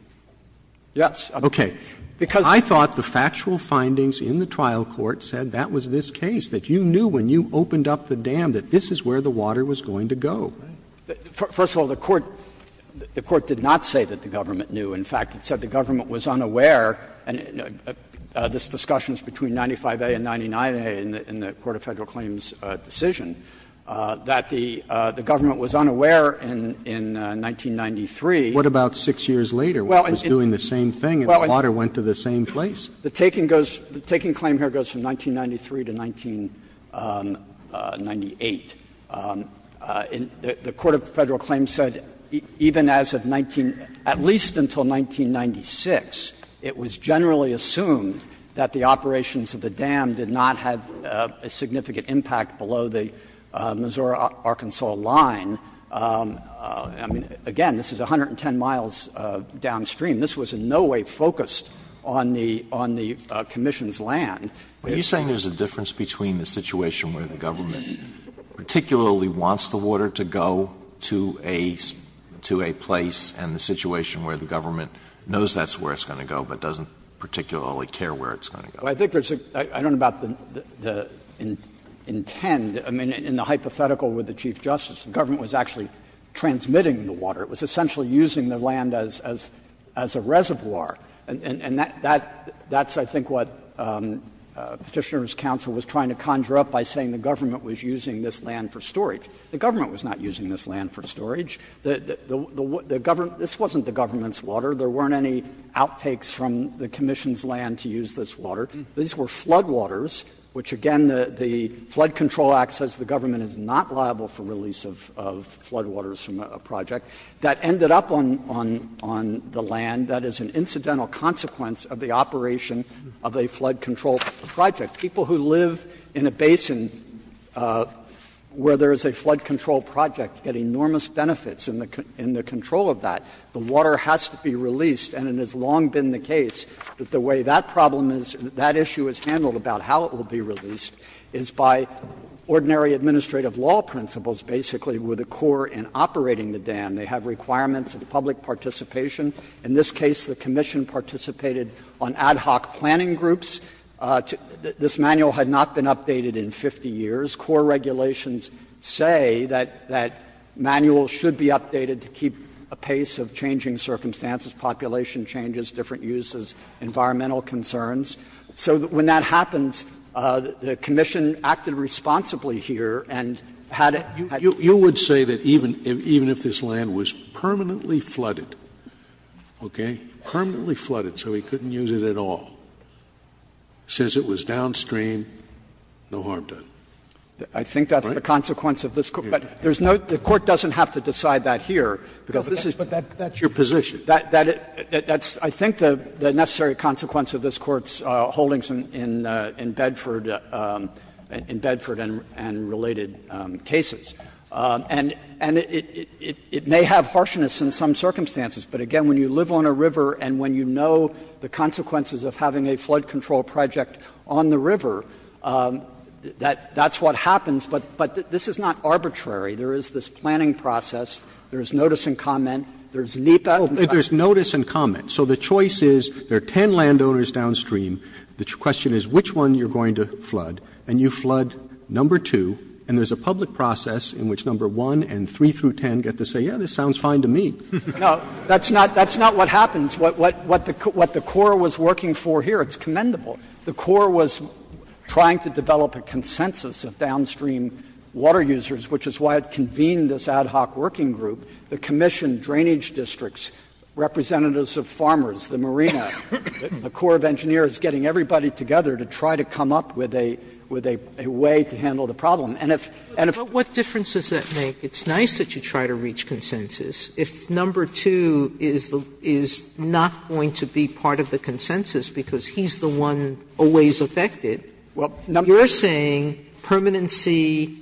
Yes. Okay. Because I thought the factual findings in the trial court said that was this case, that you knew when you opened up the dam that this is where the water was going to go. First of all, the Court — the Court did not say that the government knew. In fact, it said the government was unaware, and this discussion is between 95a and 99a in the Court of Federal Claims' decision, that the government was unaware in 1993. What about 6 years later, when it was doing the same thing and the water went to somebody's land and the water went to the same place? The taking goes — the taking claim here goes from 1993 to 1998. The Court of Federal Claims said even as of 19 — at least until 1996, it was generally assumed that the operations of the dam did not have a significant impact below the Missouri-Arkansas line. I mean, again, this is 110 miles downstream. This was in no way focused on the — on the commission's land. Alitoso, are you saying there's a difference between the situation where the government particularly wants the water to go to a — to a place and the situation where the government knows that's where it's going to go but doesn't particularly care where it's going to go? Well, I think there's a — I don't know about the — the intent. I mean, in the hypothetical with the Chief Justice, the government was actually transmitting the water. It was essentially using the land as — as a reservoir, and that — that's, I think, what Petitioner's counsel was trying to conjure up by saying the government was using this land for storage. The government was not using this land for storage. The government — this wasn't the government's water. There weren't any outtakes from the commission's land to use this water. These were floodwaters, which, again, the Flood Control Act says the government is not liable for release of floodwaters from a project. That ended up on — on the land. That is an incidental consequence of the operation of a flood control project. People who live in a basin where there is a flood control project get enormous benefits in the control of that. The water has to be released, and it has long been the case that the way that problem is — that issue is handled about how it will be released is by ordinary administrative law principles, basically, with a core in operating the dam. They have requirements of public participation. In this case, the commission participated on ad hoc planning groups. This manual had not been updated in 50 years. Core regulations say that manuals should be updated to keep a pace of changing circumstances, population changes, different uses, environmental concerns. So when that happens, the commission acted responsibly here and had it — Scalia. You would say that even if this land was permanently flooded, okay, permanently flooded, so he couldn't use it at all, since it was downstream, no harm done. Right? Kneedler. I think that's the consequence of this. But there's no — the Court doesn't have to decide that here, because this is — Scalia. But that's your position. Kneedler. That's — I think the necessary consequence of this Court's holdings in Bedford — in Bedford and related cases. And it may have harshness in some circumstances, but, again, when you live on a river and when you know the consequences of having a flood control project on the river, that's what happens. But this is not arbitrary. There is this planning process. There is notice and comment. There is NEPA. Roberts. Roberts. There is notice and comment. So the choice is there are 10 landowners downstream. The question is which one you're going to flood. And you flood number two, and there's a public process in which number one and three through 10 get to say, yeah, this sounds fine to me. Kneedler. No, that's not — that's not what happens. What the Corps was working for here, it's commendable. The Corps was trying to develop a consensus of downstream water users, which is why it convened this ad hoc working group. The commission, drainage districts, representatives of farmers, the marina, the Corps of Engineers, getting everybody together to try to come up with a way to handle the problem. And if — Sotomayor But what difference does that make? It's nice that you try to reach consensus. If number two is not going to be part of the consensus because he's the one always affected, you're saying permanency,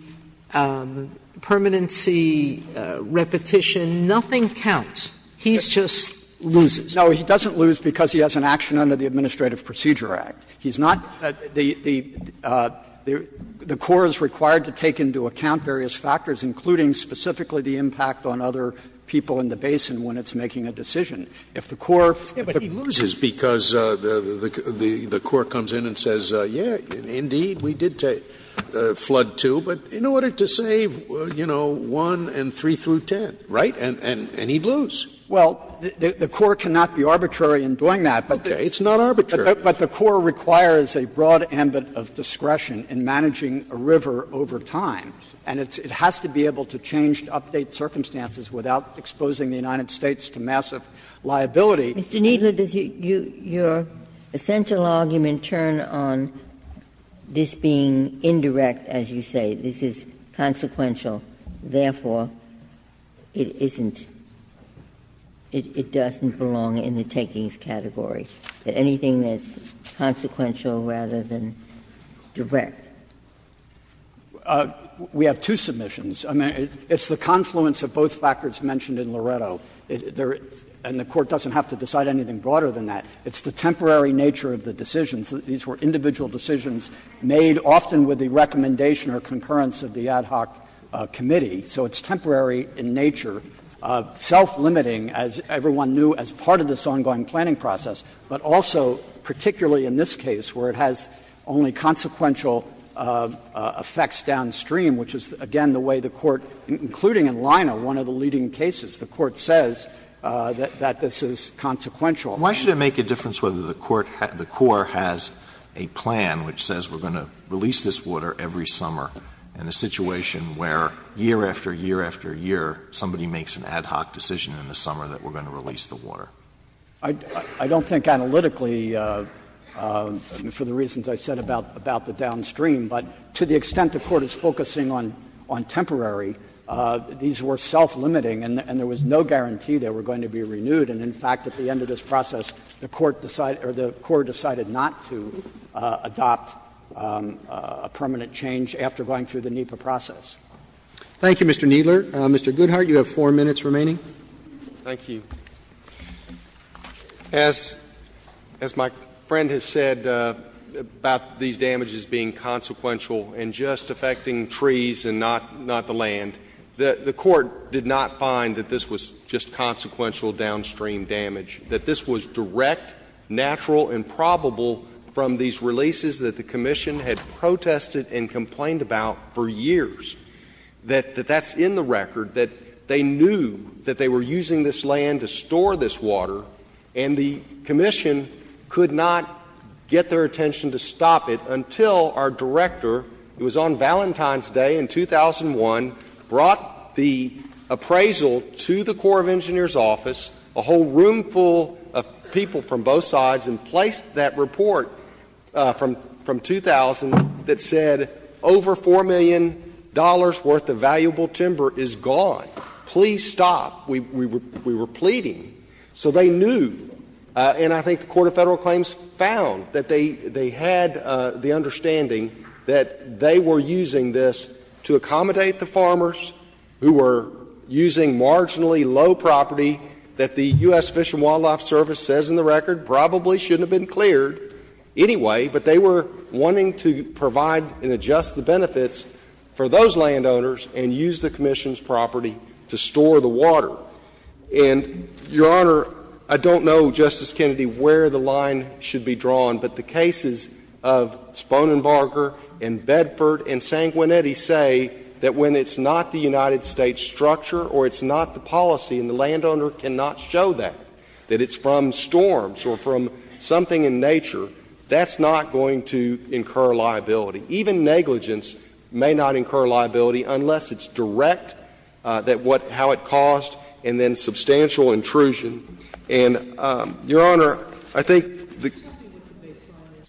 repetition, nothing counts. He just loses. Kneedler No, he doesn't lose because he has an action under the Administrative Procedure Act. He's not — the Corps is required to take into account various factors, including specifically the impact on other people in the basin when it's making a decision. If the Corps — Scalia But he loses because the Corps comes in and says, yeah, indeed, we did flood two, but in order to save, you know, one and three through 10, right? And he'd lose. Kneedler Well, the Corps cannot be arbitrary in doing that, but the — Scalia Okay, it's not arbitrary. Kneedler But the Corps requires a broad ambit of discretion in managing a river over time. And it has to be able to change, to update circumstances without exposing the United States to massive liability. Ginsburg Mr. Kneedler, does your essential argument turn on this being indirect, as you say? This is consequential. Therefore, it isn't — it doesn't belong in the takings category. Anything that's consequential rather than direct. Kneedler We have two submissions. I mean, it's the confluence of both factors mentioned in Loretto. There — and the Court doesn't have to decide anything broader than that. It's the temporary nature of the decisions. These were individual decisions made often with the recommendation or concurrence of the ad hoc committee. So it's temporary in nature, self-limiting, as everyone knew, as part of this ongoing planning process, but also particularly in this case, where it has only consequential effects downstream, which is, again, the way the Court, including in Lina, one of the leading cases, the Court says that this is consequential. Alito Why should it make a difference whether the Court — the Corps has a plan which says we're going to release this water every summer in a situation where year after year after year somebody makes an ad hoc decision in the summer that we're going to release the water? Kneedler I don't think analytically, for the reasons I said about the downstream, but to the extent the Court is focusing on temporary, these were self-limiting and there was no guarantee they were going to be renewed. And, in fact, at the end of this process, the Court decided — or the Corps decided not to adopt a permanent change after going through the NEPA process. Roberts Thank you, Mr. Kneedler. Mr. Goodhart, you have four minutes remaining. Goodhart Thank you. As my friend has said about these damages being consequential and just affecting trees and not the land, the Court did not find that this was just consequential downstream damage, that this was direct, natural, and probable from these releases that the Commission had protested and complained about for years, that that's in the record, that they knew that they were using this land to store this water, and the Commission could not get their attention to stop it until our director — it was on Valentine's Day in 2001 — brought the appraisal to the Corps of Engineers' office, a whole roomful of people from both sides, and placed that report from — from 2000 that said over $4 million worth of valuable timber is gone. Please stop. We were — we were pleading. So they knew, and I think the Court of Federal Claims found that they — they had the understanding that they were using this to accommodate the farmers who were using marginally low property that the U.S. Fish and Wildlife Service says in the record probably shouldn't have been cleared anyway, but they were wanting to provide and adjust the benefits for those landowners and use the Commission's property to store the water. And, Your Honor, I don't know, Justice Kennedy, where the line should be drawn, but the cases of Sponenbarger and Bedford and Sanguinetti say that when it's not the United States structure or it's not the policy, and the landowner cannot show that, that it's from storms or from something in nature, that's not going to incur liability. Even negligence may not incur liability unless it's direct, that what — how it caused, and then substantial intrusion. And, Your Honor, I think the — Sotomayor,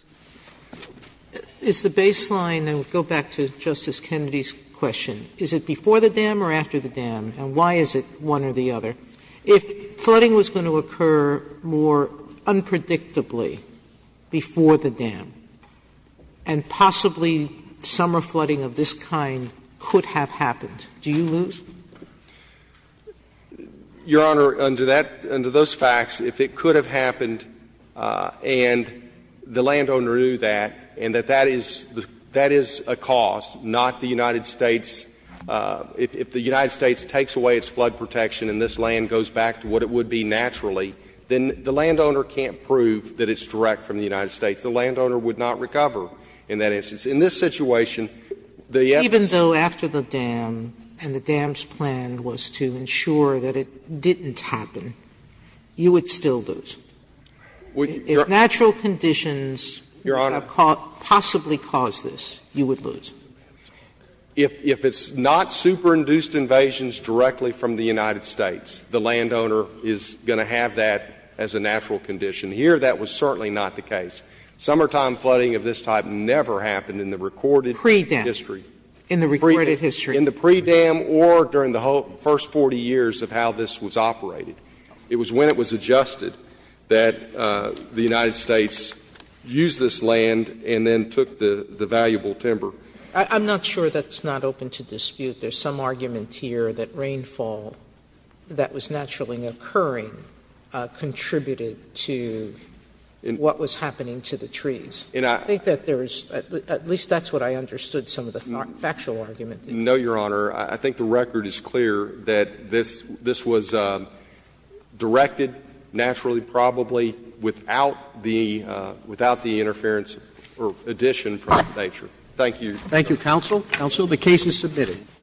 is the baseline — and we'll go back to Justice Kennedy's question — is it before the dam or after the dam, and why is it one or the other? If flooding was going to occur more unpredictably before the dam and possibly summer flooding of this kind could have happened, do you lose? Your Honor, under that — under those facts, if it could have happened and the landowner knew that, and that that is a cause, not the United States — if the United States takes away its flood protection and this land goes back to what it would be naturally, then the landowner can't prove that it's direct from the United States. The landowner would not recover in that instance. In this situation, the evidence — Even though after the dam and the dam's plan was to ensure that it didn't happen, you would still lose? If natural conditions have possibly caused this, you would lose. If it's not superinduced invasions directly from the United States, the landowner is going to have that as a natural condition. Here, that was certainly not the case. Summertime flooding of this type never happened in the recorded history. Pre-dam. In the recorded history. In the pre-dam or during the first 40 years of how this was operated. It was when it was adjusted that the United States used this land and then took the valuable timber. I'm not sure that's not open to dispute. There's some argument here that rainfall that was naturally occurring contributed to what was happening to the trees. And I think that there is — at least that's what I understood some of the factual argument. No, Your Honor. I think the record is clear that this was directed naturally, probably, without the — without the interference or addition from nature. Thank you. Thank you, counsel. Counsel, the case is submitted.